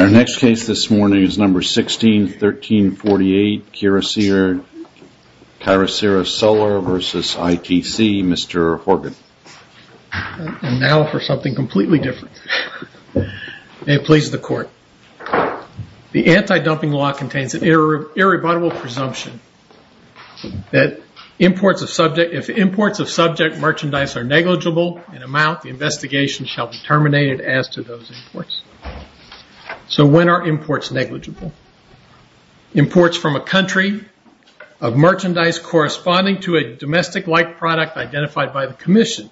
Our next case this morning is No. 16, 1348, Kyrocera Solar v. ITC. Mr. Horgan. Now for something completely different. May it please the court. The anti-dumping law contains an irrebuttable presumption that if imports of subject merchandise are negligible in amount, the investigation shall be terminated as to those imports. So when are imports negligible? Imports from a country of merchandise corresponding to a domestic-like product identified by the commission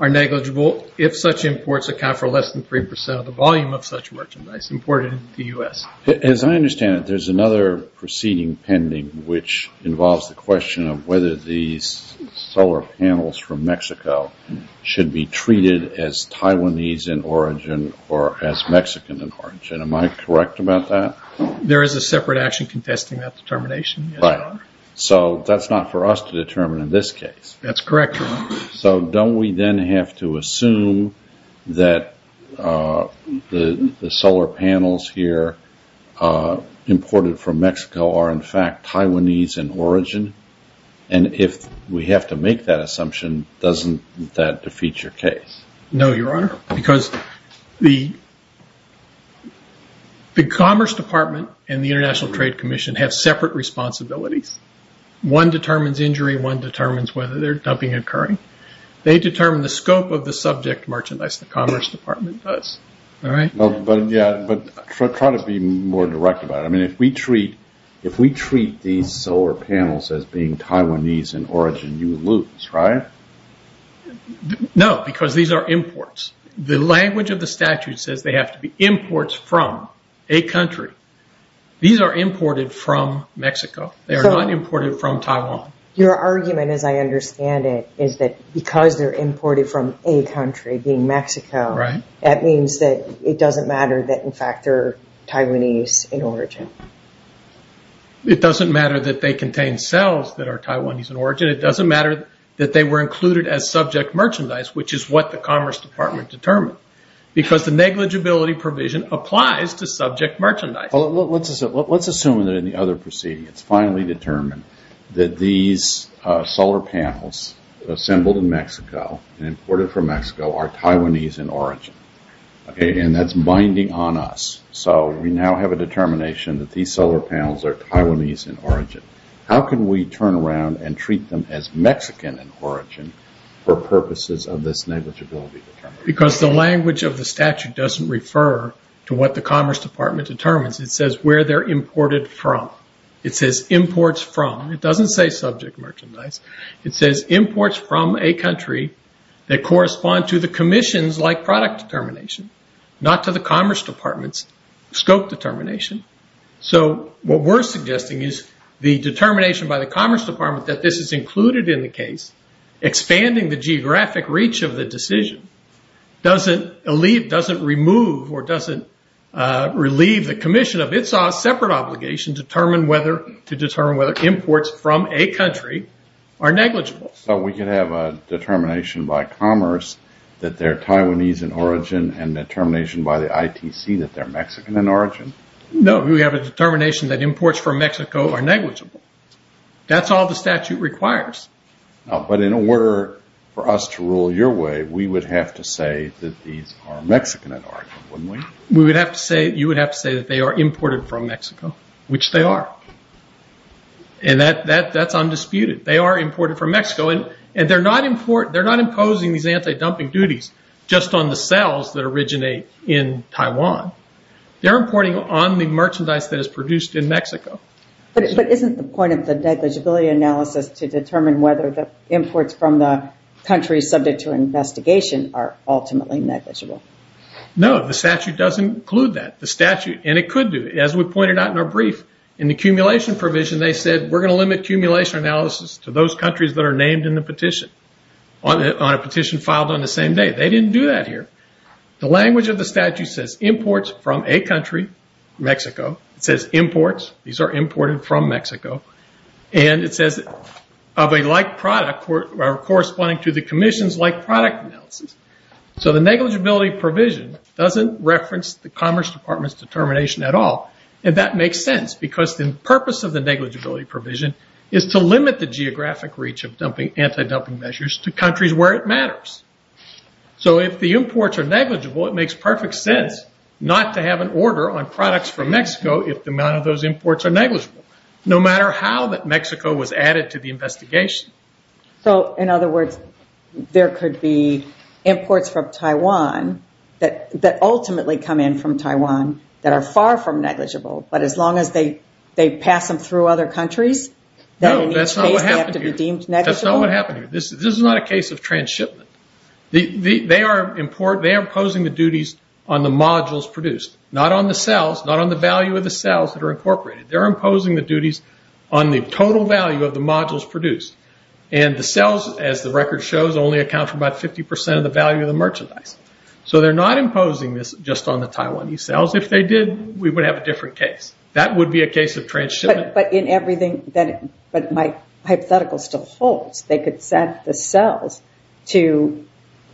are negligible if such imports account for less than 3% of the volume of such merchandise imported into the U.S. As I understand it, there's another proceeding pending which involves the question of whether the solar panels from Mexico should be treated as Taiwanese in origin or as Mexican in origin. Am I correct about that? There is a separate action contesting that determination. Right. So that's not for us to determine in this case. That's correct, Your Honor. So don't we then have to assume that the solar panels here imported from Mexico are in fact Taiwanese in origin? And if we have to make that assumption, doesn't that defeat your case? No, Your Honor, because the Commerce Department and the International Trade Commission have separate responsibilities. One determines injury, one determines whether they're dumping occurring. They determine the scope of the subject merchandise the Commerce Department does. But try to be more direct about it. If we treat these solar panels as being Taiwanese in origin, you lose, right? No, because these are imports. The language of the statute says they have to be imports from a country. These are imported from Mexico. They are not imported from Taiwan. Your argument, as I understand it, is that because they're Taiwanese in origin, that means that it doesn't matter that in fact they're Taiwanese in origin. It doesn't matter that they contain cells that are Taiwanese in origin. It doesn't matter that they were included as subject merchandise, which is what the Commerce Department determined. Because the negligibility provision applies to subject merchandise. Let's assume that in the other proceedings, finally determined that these solar panels assembled in Mexico and imported from Mexico are Taiwanese in origin. Okay, and that's binding on us. So we now have a determination that these solar panels are Taiwanese in origin. How can we turn around and treat them as Mexican in origin for purposes of this negligibility determination? Because the language of the statute doesn't refer to what the Commerce Department determines. It says where they're imported from. It says imports from. It doesn't say subject merchandise. It says imports from a country that correspond to the commissions like product determination, not to the Commerce Department's scope determination. So what we're suggesting is the determination by the Commerce Department that this is included in the case, expanding the geographic reach of the decision, doesn't relieve the commission of its own separate obligation to determine whether imports from a country are negligible. We can have a determination by Commerce that they're Taiwanese in origin and a determination by the ITC that they're Mexican in origin? No, we have a determination that imports from Mexico are negligible. That's all the statute requires. But in order for us to rule your way, we would have to say that these are Mexican in origin, wouldn't we? We would have to say, you would have to say that they are imported from Mexico, which they are. That's undisputed. They are imported from Mexico. They're not imposing these anti-dumping duties just on the sales that originate in Taiwan. They're importing on the merchandise that is produced in Mexico. But isn't the point of the negligibility analysis to determine whether the imports from the country subject to investigation are ultimately negligible? No, the statute doesn't include that. The statute, and it could do it. As we pointed out in our brief, in the accumulation provision, they said, we're going to limit accumulation analysis to those countries that are named in the petition, on a petition filed on the same day. They didn't do that here. The language of the statute says, imports from a country, Mexico. It says, imports. These are imported from Mexico. It says, of a like product, corresponding to the commission's like product analysis. The negligibility provision doesn't reference the Commerce Department's determination at all. That makes sense, because the purpose of the negligibility provision is to limit the geographic reach of anti-dumping measures to countries where it matters. If the imports are negligible, it makes perfect sense not to have an order on products from Mexico if the amount of those imports are negligible, no matter how that Mexico was added to the investigation. In other words, there could be imports from Taiwan that ultimately come in from Taiwan that are far from negligible, but as long as they pass them through other countries, then in each case they have to be deemed negligible? No, that's not what happened here. This is not a case of trans-shipment. They are imposing the duties on the modules produced, not on the cells, not on the value of the cells that are produced. The cells, as the record shows, only account for about 50% of the value of the merchandise. They are not imposing this just on the Taiwanese cells. If they did, we would have a different case. That would be a case of trans-shipment. But my hypothetical still holds. They could send the cells to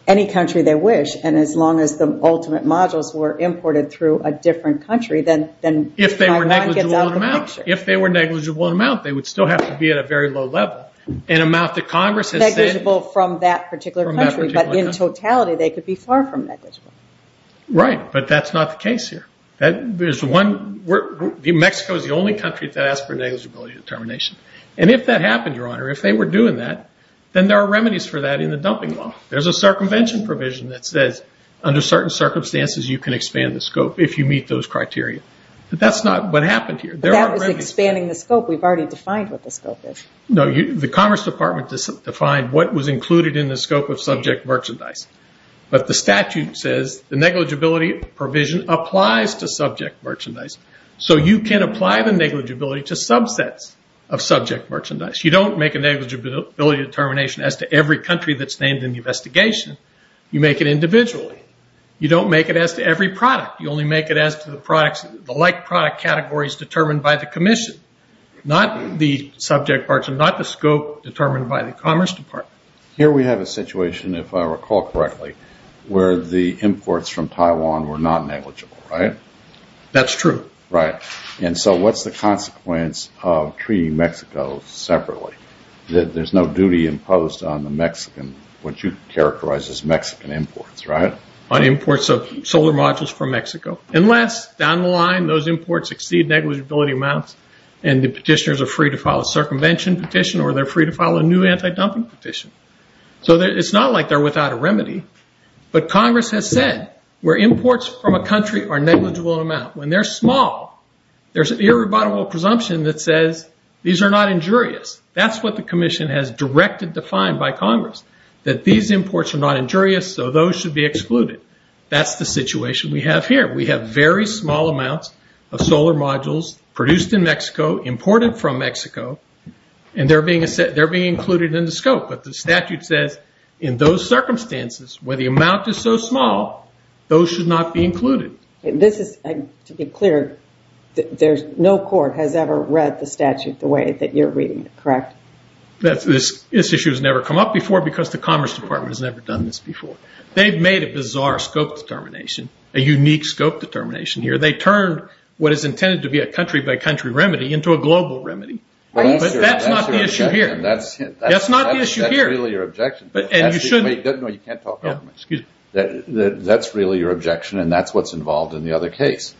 any country they wish, and as long as the ultimate modules were imported through a different country, then Taiwan gets out of the picture. If they were negligible in amount, they would still have to be at a very low level. Negligible from that particular country, but in totality, they could be far from negligible. Right, but that's not the case here. Mexico is the only country that asked for negligibility determination. If that happened, Your Honor, if they were doing that, then there are remedies for that in the dumping law. There's a circumvention provision that says, under certain circumstances, you can expand the scope if you meet those criteria. But that's not what happened here. That was expanding the scope. We've already defined what the scope is. The Commerce Department defined what was included in the scope of subject merchandise. But the statute says the negligibility provision applies to subject merchandise. So you can apply the negligibility to subsets of subject merchandise. You don't make a negligibility determination as to every country that's named in the investigation. You make it individually. You don't make it as to every product. You only make it as to the like product categories determined by the Commission. Not the subject parts and not the scope determined by the Commerce Department. Here we have a situation, if I recall correctly, where the imports from Taiwan were not negligible, right? That's true. Right. And so what's the consequence of treating Mexico separately? There's no duty imposed on the Mexican, what you characterize as Mexican imports, right? On imports of solar modules from Mexico. Unless, down the line, those imports exceed negligibility amounts and the petitioners are free to file a circumvention petition or they're free to file a new anti-dumping petition. So it's not like they're without a remedy. But Congress has said where imports from a country are negligible in amount, when they're small, there's an irrebuttable presumption that says these are not injurious. That's what the Commission has directed to find by Congress. That these imports are not injurious, so those should be excluded. That's the situation we have here. We have very small amounts of solar modules produced in Mexico, imported from Mexico, and they're being included in the scope. But the statute says in those circumstances, where the amount is so small, those should not be included. This is, to be clear, no court has ever read the statute the way that you're reading it, right? This issue has never come up before because the Commerce Department has never done this before. They've made a bizarre scope determination, a unique scope determination here. They turned what is intended to be a country-by-country remedy into a global remedy. But that's not the issue here. That's really your objection, and that's what's involved in the other case.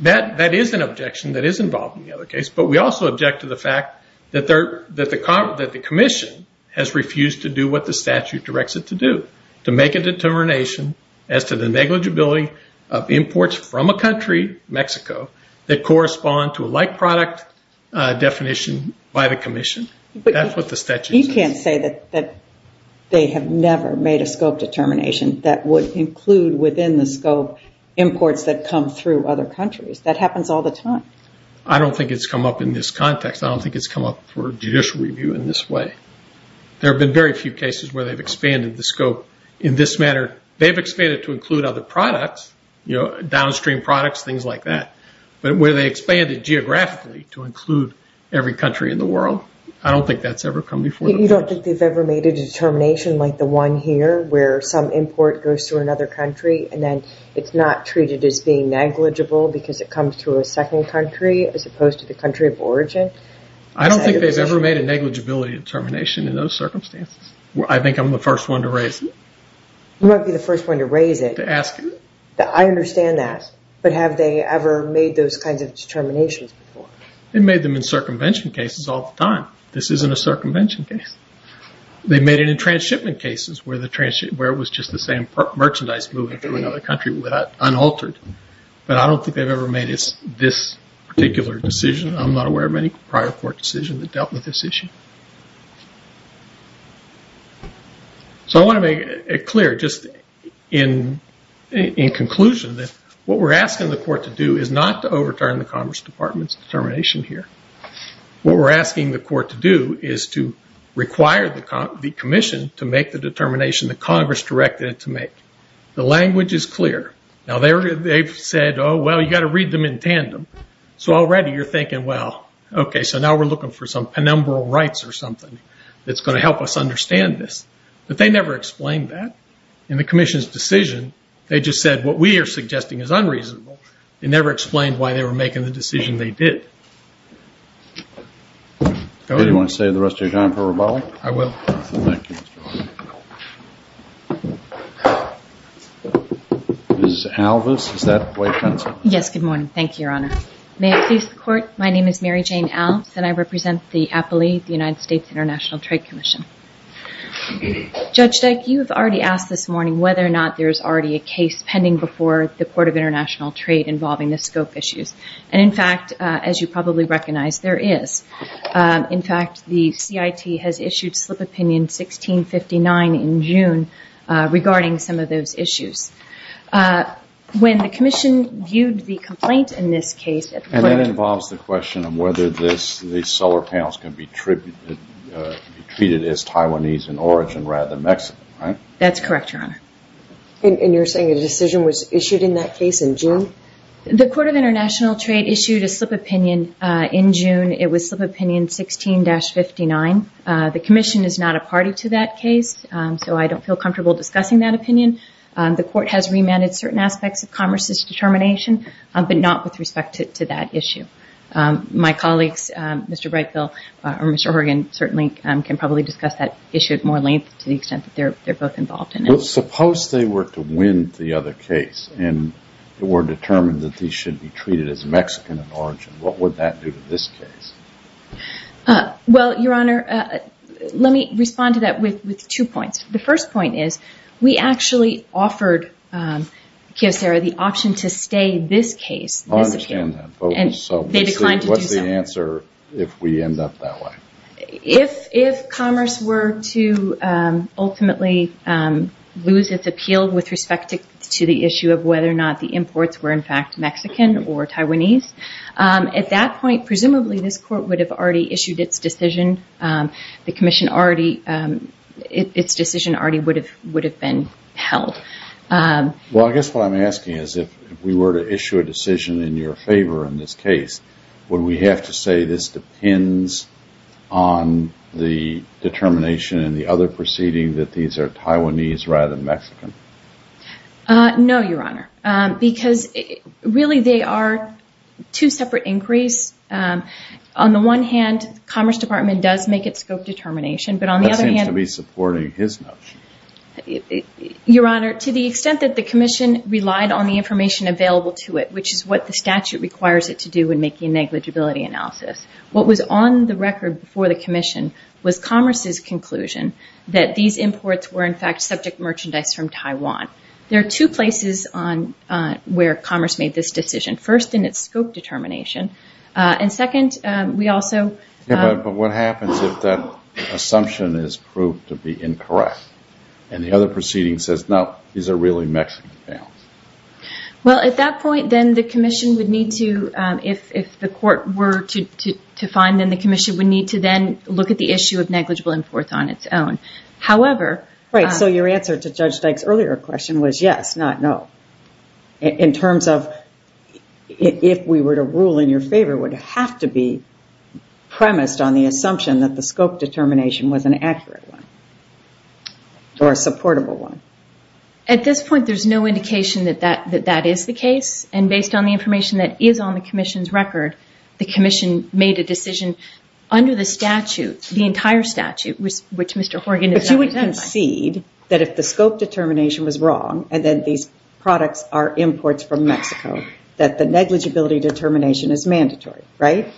That is an objection that is involved in the other case, but we also object to the fact that the Commission has refused to do what the statute directs it to do, to make a determination as to the negligibility of imports from a country, Mexico, that correspond to a like-product definition by the Commission. That's what the statute says. You can't say that they have never made a scope determination that would include within the scope imports that come through other countries. That happens all the time. I don't think it's come up in this context. I don't think it's come up for judicial review in this way. There have been very few cases where they've expanded the scope in this manner. They've expanded to include other products, downstream products, things like that, but where they expanded geographically to include every country in the world, I don't think that's ever come before the Court. You don't think they've ever made a determination like the one here, where some import goes through another country, and then it's not treated as being negligible because it comes through a second country as opposed to the country of origin? I don't think they've ever made a negligibility determination in those circumstances. I think I'm the first one to raise it. You might be the first one to raise it. To ask it. I understand that, but have they ever made those kinds of determinations before? They made them in circumvention cases all the time. This isn't a circumvention case. They made it in transshipment cases, where it was just the same merchandise moving through another country unaltered, but I don't think they've ever made this particular decision. I'm not aware of any prior court decision that dealt with this issue. I want to make it clear, just in conclusion, that what we're asking the Court to do is not to overturn the Congress Department's determination here. What we're asking the Court to do is to require the Commission to make the determination that Congress directed it to make. The language is clear. Now, they've said, oh, well, you've got to read them in tandem. So already you're thinking, well, okay, so now we're looking for some penumbral rights or something that's going to help us understand this, but they never explained that. In the Commission's decision, they just said, what we are suggesting is unreasonable. They never explained why they were making the decision they did. Do you want to save the rest of your time for rebuttal? I will. Thank you, Mr. O'Connor. Ms. Alvis, is that the way it's done? Yes. Good morning. Thank you, Your Honor. May it please the Court, my name is Mary Jane Alvis, and I represent the Appellee, the United States International Trade Commission. Judge Dyke, you have already asked this morning whether or not there is already a case pending before the Court of International Trade involving the scope issues, and in fact, as you probably recognize, there is. In fact, the CIT has issued Slip Opinion 1659 in June regarding some of those issues. When the Commission viewed the complaint in this case at the Court of International Trade… And that involves the question of whether these solar panels can be treated as Taiwanese in origin rather than Mexican, right? That's correct, Your Honor. And you're saying a decision was issued in that case in June? The Court of International Trade issued a slip opinion in June. It was Slip Opinion 16-59. The Commission is not a party to that case, so I don't feel comfortable discussing that opinion. The Court has remanded certain aspects of Commerce's determination, but not with respect to that issue. My colleagues, Mr. Brightfield or Mr. Horgan, certainly can probably discuss that issue at more length to the extent that they're both involved in it. Suppose they were to win the other case and were determined that these should be treated as Mexican in origin. What would that do to this case? Well, Your Honor, let me respond to that with two points. The first point is, we actually offered Kyocera the option to stay this case. I understand that, but what's the answer if we end up that way? If Commerce were to ultimately lose its appeal with respect to the issue of whether or not the imports were, in fact, Mexican or Taiwanese, at that point, presumably this Court would have already issued its decision. The Commission already, its decision already would have been held. Well, I guess what I'm asking is, if we were to issue a decision in your favor in this case, would we have to say this depends on the determination in the other proceeding that these are Taiwanese rather than Mexican? No, Your Honor, because really they are two separate inquiries. On the one hand, Commerce Department does make its scope determination, but on the other hand... That seems to be supporting his notion. Your Honor, to the extent that the Commission relied on the information available to it, which is what the statute requires it to do when making a negligibility analysis, what was on the record before the Commission was Commerce's conclusion that these imports were, in fact, subject merchandise from Taiwan? There are two places where Commerce made this decision. First, in its scope determination, and second, we also... Yeah, but what happens if that assumption is proved to be incorrect, and the other proceeding says, no, these are really Mexican bales? Well, at that point, then, the Commission would need to, if the Court were to find them, the Commission would need to then look at the issue of negligible imports on its own. However... Right, so your answer to Judge Dyke's earlier question was yes, not no. In terms of, if we were to rule in your favor, it would have to be premised on the assumption that the scope determination was an accurate one, or a supportable one. At this point, there's no indication that that is the case, and based on the information that is on the Commission's record, the Commission made a decision under the statute, the entire organization... But you would concede that if the scope determination was wrong, and that these products are imports from Mexico, that the negligibility determination is mandatory, right?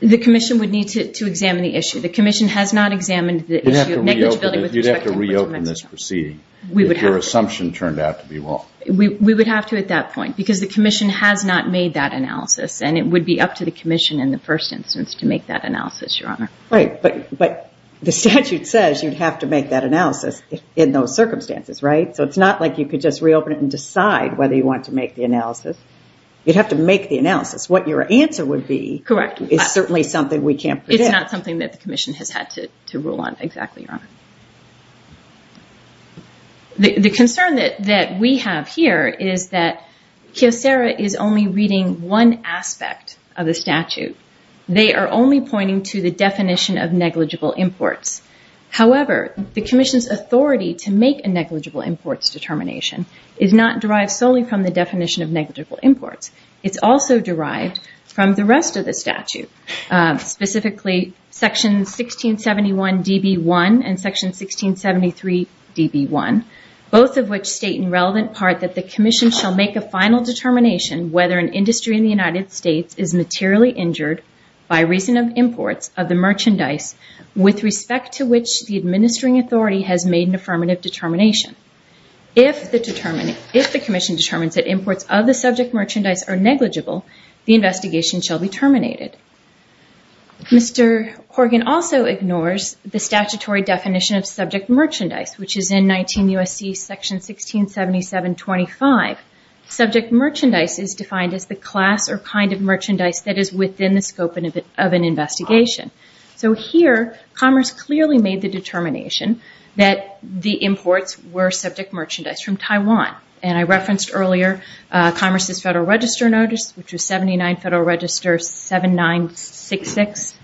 The Commission would need to examine the issue. The Commission has not examined the issue of negligibility with respect to imports from Mexico. You'd have to reopen this proceeding if your assumption turned out to be wrong. We would have to at that point, because the Commission has not made that analysis, and it would be up to the Commission in the first instance to make that analysis, Your Honor. Right, but the statute says you'd have to make that analysis in those circumstances, right? So it's not like you could just reopen it and decide whether you want to make the analysis. You'd have to make the analysis. What your answer would be is certainly something we can't predict. It's not something that the Commission has had to rule on exactly, Your Honor. The concern that we have here is that Kiosera is only reading one aspect of the statute. They are only pointing to the definition of negligible imports. However, the Commission's authority to make a negligible imports determination is not derived solely from the definition of negligible imports. It's also derived from the rest of the statute, specifically Section 1671 DB1 and Section 1673 DB1, both of which state in relevant part that the Commission shall make a final determination whether an industry in the United States is materially injured by reason of imports of the merchandise with respect to which the administering authority has made an affirmative determination. If the Commission determines that imports of the subject merchandise are negligible, the investigation shall be terminated. Mr. Horgan also ignores the statutory definition of subject merchandise, which is in 19 U.S.C. Section 1677-25. Subject merchandise is defined as the class or kind of merchandise that is within the scope of an investigation. Here, Commerce clearly made the determination that the imports were subject merchandise from Taiwan. I referenced earlier Commerce's Federal Register Notice, which was 79 Federal Register 7966.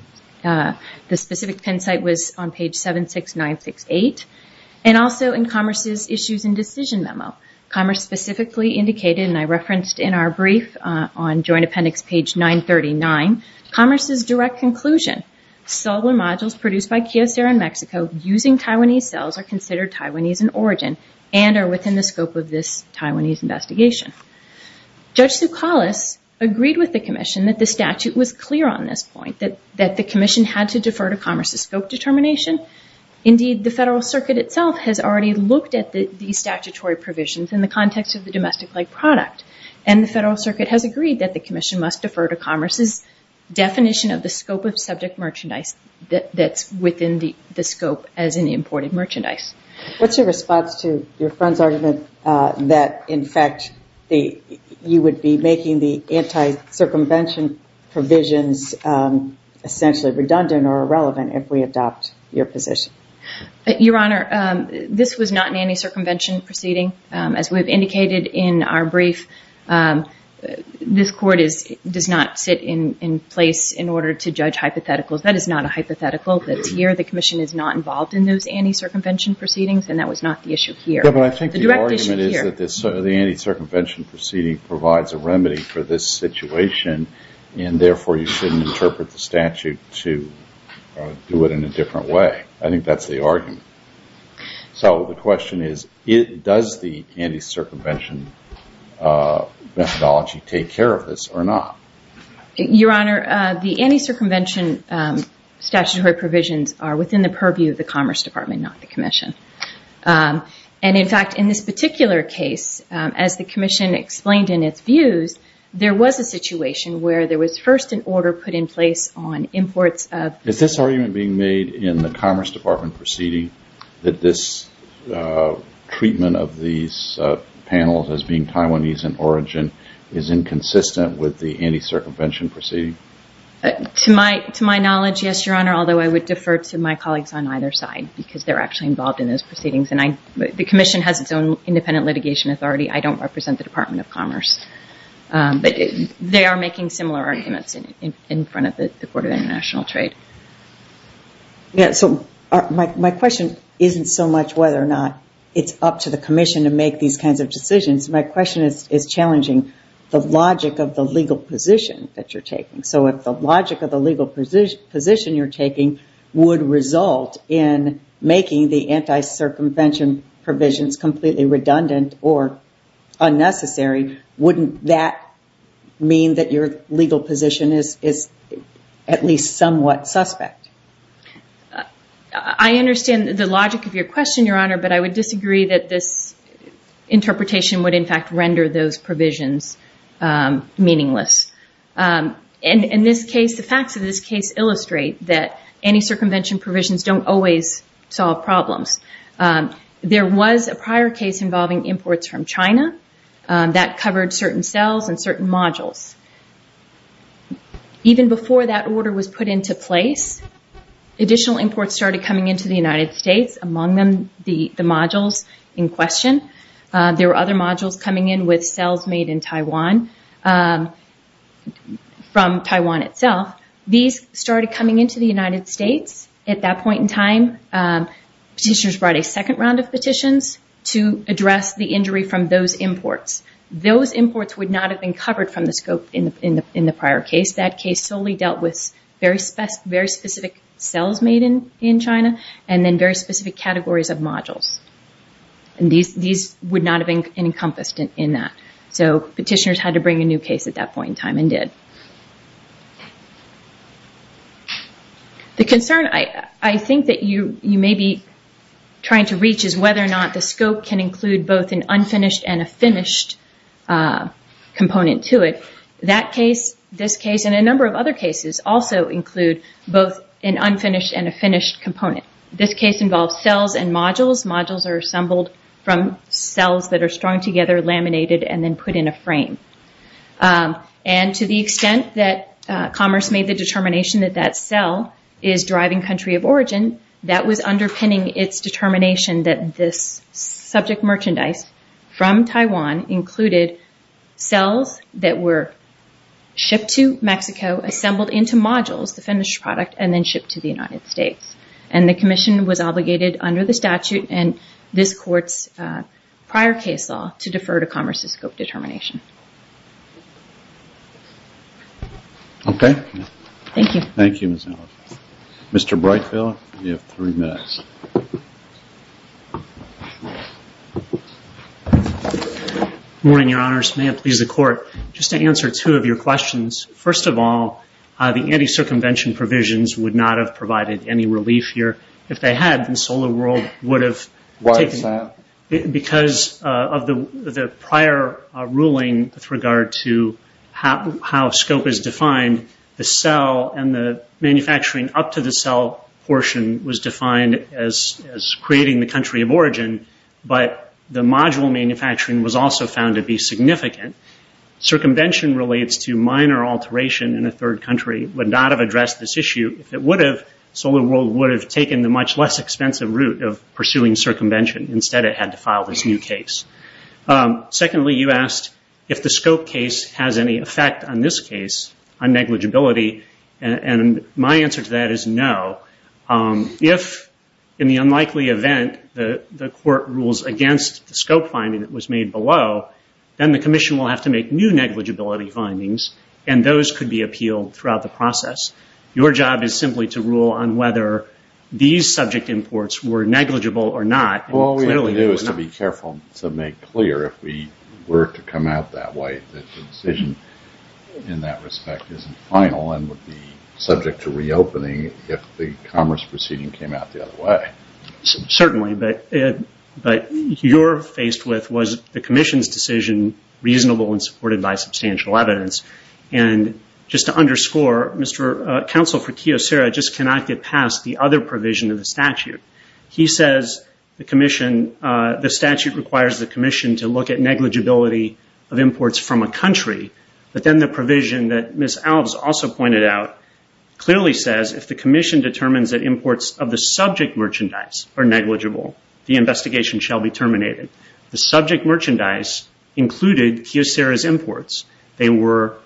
The specific pen site was on page 76968. Also in Commerce's Issues and Decision Memo, Commerce specifically indicated, and I referenced in our brief on Joint Appendix page 939, Commerce's direct conclusion, cellular modules produced by Kyocera in Mexico using Taiwanese cells are considered Taiwanese in origin and are within the scope of this Taiwanese investigation. Judge Soukalos agreed with the Commission that the statute was clear on this point, that the Commission had to defer to Commerce's scope determination. Indeed, the Federal Circuit itself has already looked at these statutory provisions in the context of the domestic-like product. And the Federal Circuit has agreed that the Commission must defer to Commerce's definition of the scope of subject merchandise that's within the scope as an imported merchandise. What's your response to your friend's argument that, in fact, you would be making the anti-circumvention provisions essentially redundant or irrelevant if we adopt your position? Your Honor, this was not an anti-circumvention proceeding. As we've indicated in our brief, this Court does not sit in place in order to judge hypotheticals. That is not a hypothetical that's here. The Commission is not involved in those anti-circumvention proceedings, and that was not the issue here. The direct issue here. The anti-circumvention proceeding provides a remedy for this situation, and therefore you shouldn't interpret the statute to do it in a different way. I think that's the argument. So the question is, does the anti-circumvention methodology take care of this or not? Your Honor, the anti-circumvention statutory provisions are within the purview of the Commerce Department, not the Commission. In fact, in this particular case, as the Commission explained in its views, there was a situation where there was first an order put in place on imports of... Is this argument being made in the Commerce Department proceeding that this treatment of these panels as being Taiwanese in origin is inconsistent with the anti-circumvention proceeding? To my knowledge, yes, Your Honor, although I would defer to my colleagues on either side because they're actually involved in those proceedings, and the Commission has its own independent litigation authority. I don't represent the Department of Commerce, but they are making similar arguments in front of the Court of International Trade. Yes, so my question isn't so much whether or not it's up to the Commission to make these kinds of decisions. My question is challenging the logic of the legal position that you're taking. If the logic of the legal position you're taking would result in making the anti-circumvention provisions completely redundant or unnecessary, wouldn't that mean that your legal position is at least somewhat suspect? I understand the logic of your question, Your Honor, but I would disagree that this interpretation would in fact render those provisions meaningless. In this case, the facts of this case illustrate that anti-circumvention provisions don't always solve problems. There was a prior case involving imports from China that covered certain cells and certain modules. Even before that order was put into place, additional imports started coming into the United States, among them the modules in question. There were other modules coming in with cells made in Taiwan, from Taiwan itself. These started coming into the United States. At that point in time, petitioners brought a second round of petitions to address the injury from those imports. Those imports would not have been covered from the scope in the prior case. That case solely dealt with very specific cells made in China and then very specific categories of modules. These would not have been encompassed in that. Petitioners had to bring a new case at that point in time and did. The concern I think that you may be trying to reach is whether or not the scope can include both an unfinished and a finished component to it. That case, this case, and a number of other cases also include both an unfinished and a finished component. This case involves cells and modules. Modules are assembled from cells that are strung together, laminated, and then put in a frame. To the extent that commerce made the determination that that cell is deriving country of origin, that was underpinning its determination that this subject merchandise from Taiwan included cells that were shipped to Mexico, assembled into modules, the finished product, and then shipped to the United States. The commission was obligated under the statute and this court's prior case law to defer to commerce's scope determination. Okay. Thank you. Thank you, Ms. Ellis. Mr. Breitfeld, you have three minutes. Good morning, Your Honors. May it please the Court. Just to answer two of your questions, first of all, the anti-circumvention provisions would not have provided any relief here. If they had, then SolarWorld would have taken it. Why is that? Because of the prior ruling with regard to how scope is defined, the cell and the manufacturing up to the cell portion was defined as creating the country of origin, but the module manufacturing was also found to be significant. Circumvention relates to minor alteration in a third country would not have addressed this issue. If it would have, SolarWorld would have taken the much less expensive route of pursuing circumvention. Instead, it had to file this new case. Secondly, you asked if the scope case has any effect on this case on negligibility. My answer to that is no. If in the unlikely event the court rules against the scope finding that was made below, then the commission will have to make new negligibility findings and those could be appealed throughout the process. Your job is simply to rule on whether these subject imports were negligible or not. All we have to do is to be careful to make clear if we were to come out that way that the decision in that respect isn't final and would be subject to reopening if the commerce proceeding came out the other way. Certainly, but you're faced with was the commission's decision reasonable and supported by substantial evidence and just to underscore, counsel for Kiyosera just cannot get past the other provision of the statute. He says the statute requires the commission to look at negligibility of imports from a country but then the provision that Ms. Alves also pointed out clearly says if the commission determines that imports of the subject merchandise are negligible, the investigation shall be terminated. The subject merchandise included Kiyosera's imports. They were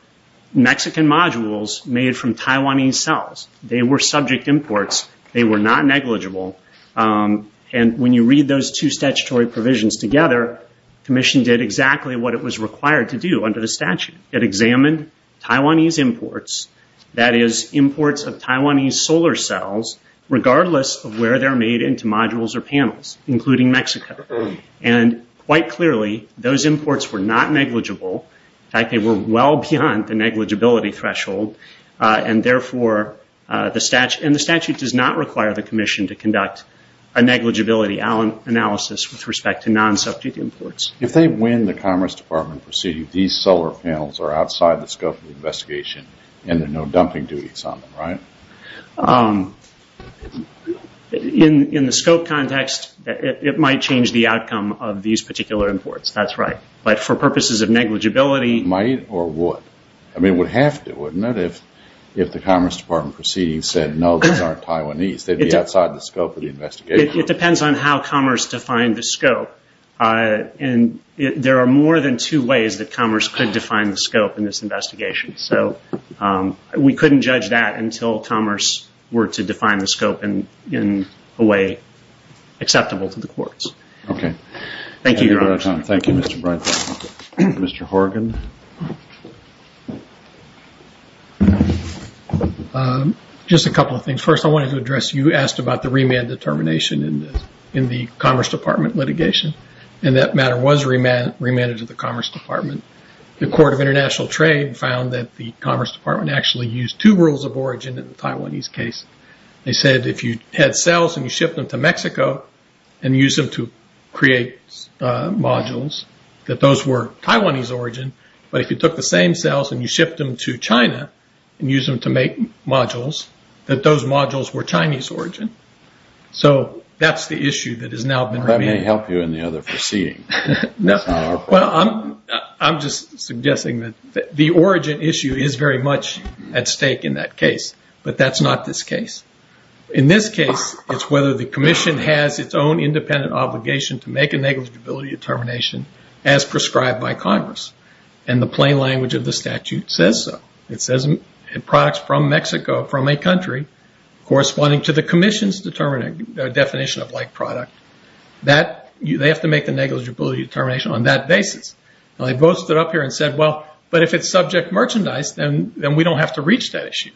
Mexican modules made from Taiwanese cells. They were subject imports. They were not negligible. When you read those two statutory provisions together, commission did exactly what it was required to do under the statute. It examined Taiwanese imports, that is, imports of Taiwanese solar cells regardless of where they're made into modules or panels, including Mexico. Quite clearly, those imports were not negligible. In fact, they were well beyond the negligibility threshold and therefore the statute does not require the commission to conduct a negligibility analysis with respect to non-subject imports. If they win the commerce department proceeding, these solar panels are outside the scope of the investigation and there are no dumping duties on them, right? In the scope context, it might change the outcome of these particular imports, that's right. But for purposes of negligibility- Might or would? I mean, it would have to, wouldn't it, if the commerce department proceeding said, no, these aren't Taiwanese. They'd be outside the scope of the investigation. It depends on how commerce defined the scope. There are more than two ways that commerce could define the scope in this investigation. So we couldn't judge that until commerce were to define the scope in a way acceptable to the courts. Thank you, Your Honor. Thank you, Mr. Breitbart. Mr. Horgan? Just a couple of things. First, I wanted to address, you asked about the remand determination in the commerce department litigation and that matter was remanded to the commerce department. The Court of International Trade found that the commerce department actually used two rules of origin in the Taiwanese case. They said if you had sales and you shipped them to Mexico and used them to create modules, that those were Taiwanese origin. But if you took the same sales and you shipped them to China and used them to make modules, that those modules were Chinese origin. So that's the issue that has now been remedied. That may help you in the other proceeding. Well, I'm just suggesting that the origin issue is very much at stake in that case. But that's not this case. In this case, it's whether the commission has its own independent obligation to make a negligibility determination as prescribed by Congress. And the plain language of the statute says so. It says products from Mexico, from a country, corresponding to the commission's definition of like product, they have to make the negligibility determination on that basis. They both stood up here and said, well, but if it's subject merchandise, then we don't have to reach that issue.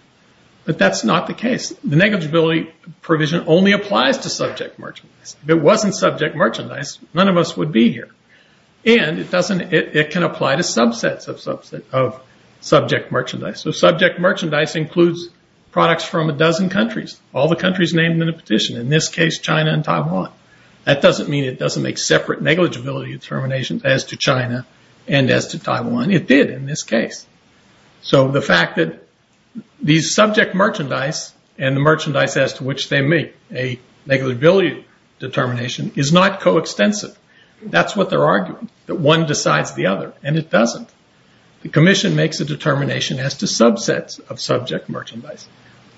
But that's not the case. The negligibility provision only applies to subject merchandise. If it wasn't subject merchandise, none of us would be here. And it can apply to subsets of subject merchandise. So subject merchandise includes products from a dozen countries, all the countries named in the petition. In this case, China and Taiwan. That doesn't mean it doesn't make separate negligibility determinations as to China and as to Taiwan. It did in this case. So the fact that these subject merchandise and the merchandise as to which they make a negligibility determination is not coextensive. That's what they're arguing, that one decides the other. And it doesn't. The commission makes a determination as to subsets of subject merchandise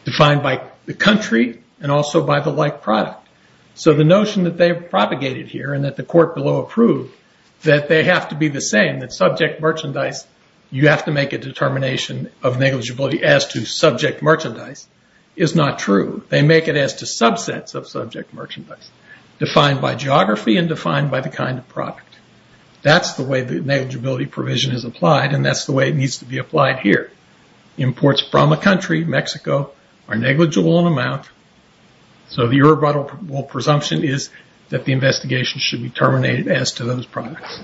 defined by the country and also by the like product. So the notion that they propagated here and that the court below approved that they have to be the same, that subject merchandise, you have to make a determination of negligibility as to subject merchandise is not true. They make it as to subsets of subject merchandise defined by geography and defined by the kind of product. That's the way the negligibility provision is applied and that's the way it needs to be applied here. Imports from a country, Mexico, are negligible in amount. So the irrebuttable presumption is that the investigation should be terminated as to those products.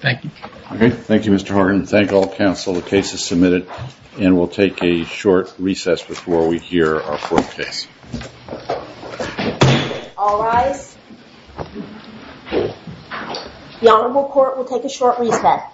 Thank you. Okay. Thank you, Mr. Horton. Thank all counsel. The case is submitted and we'll take a short recess before we hear our court case. All rise. The Honorable Court will take a short recess.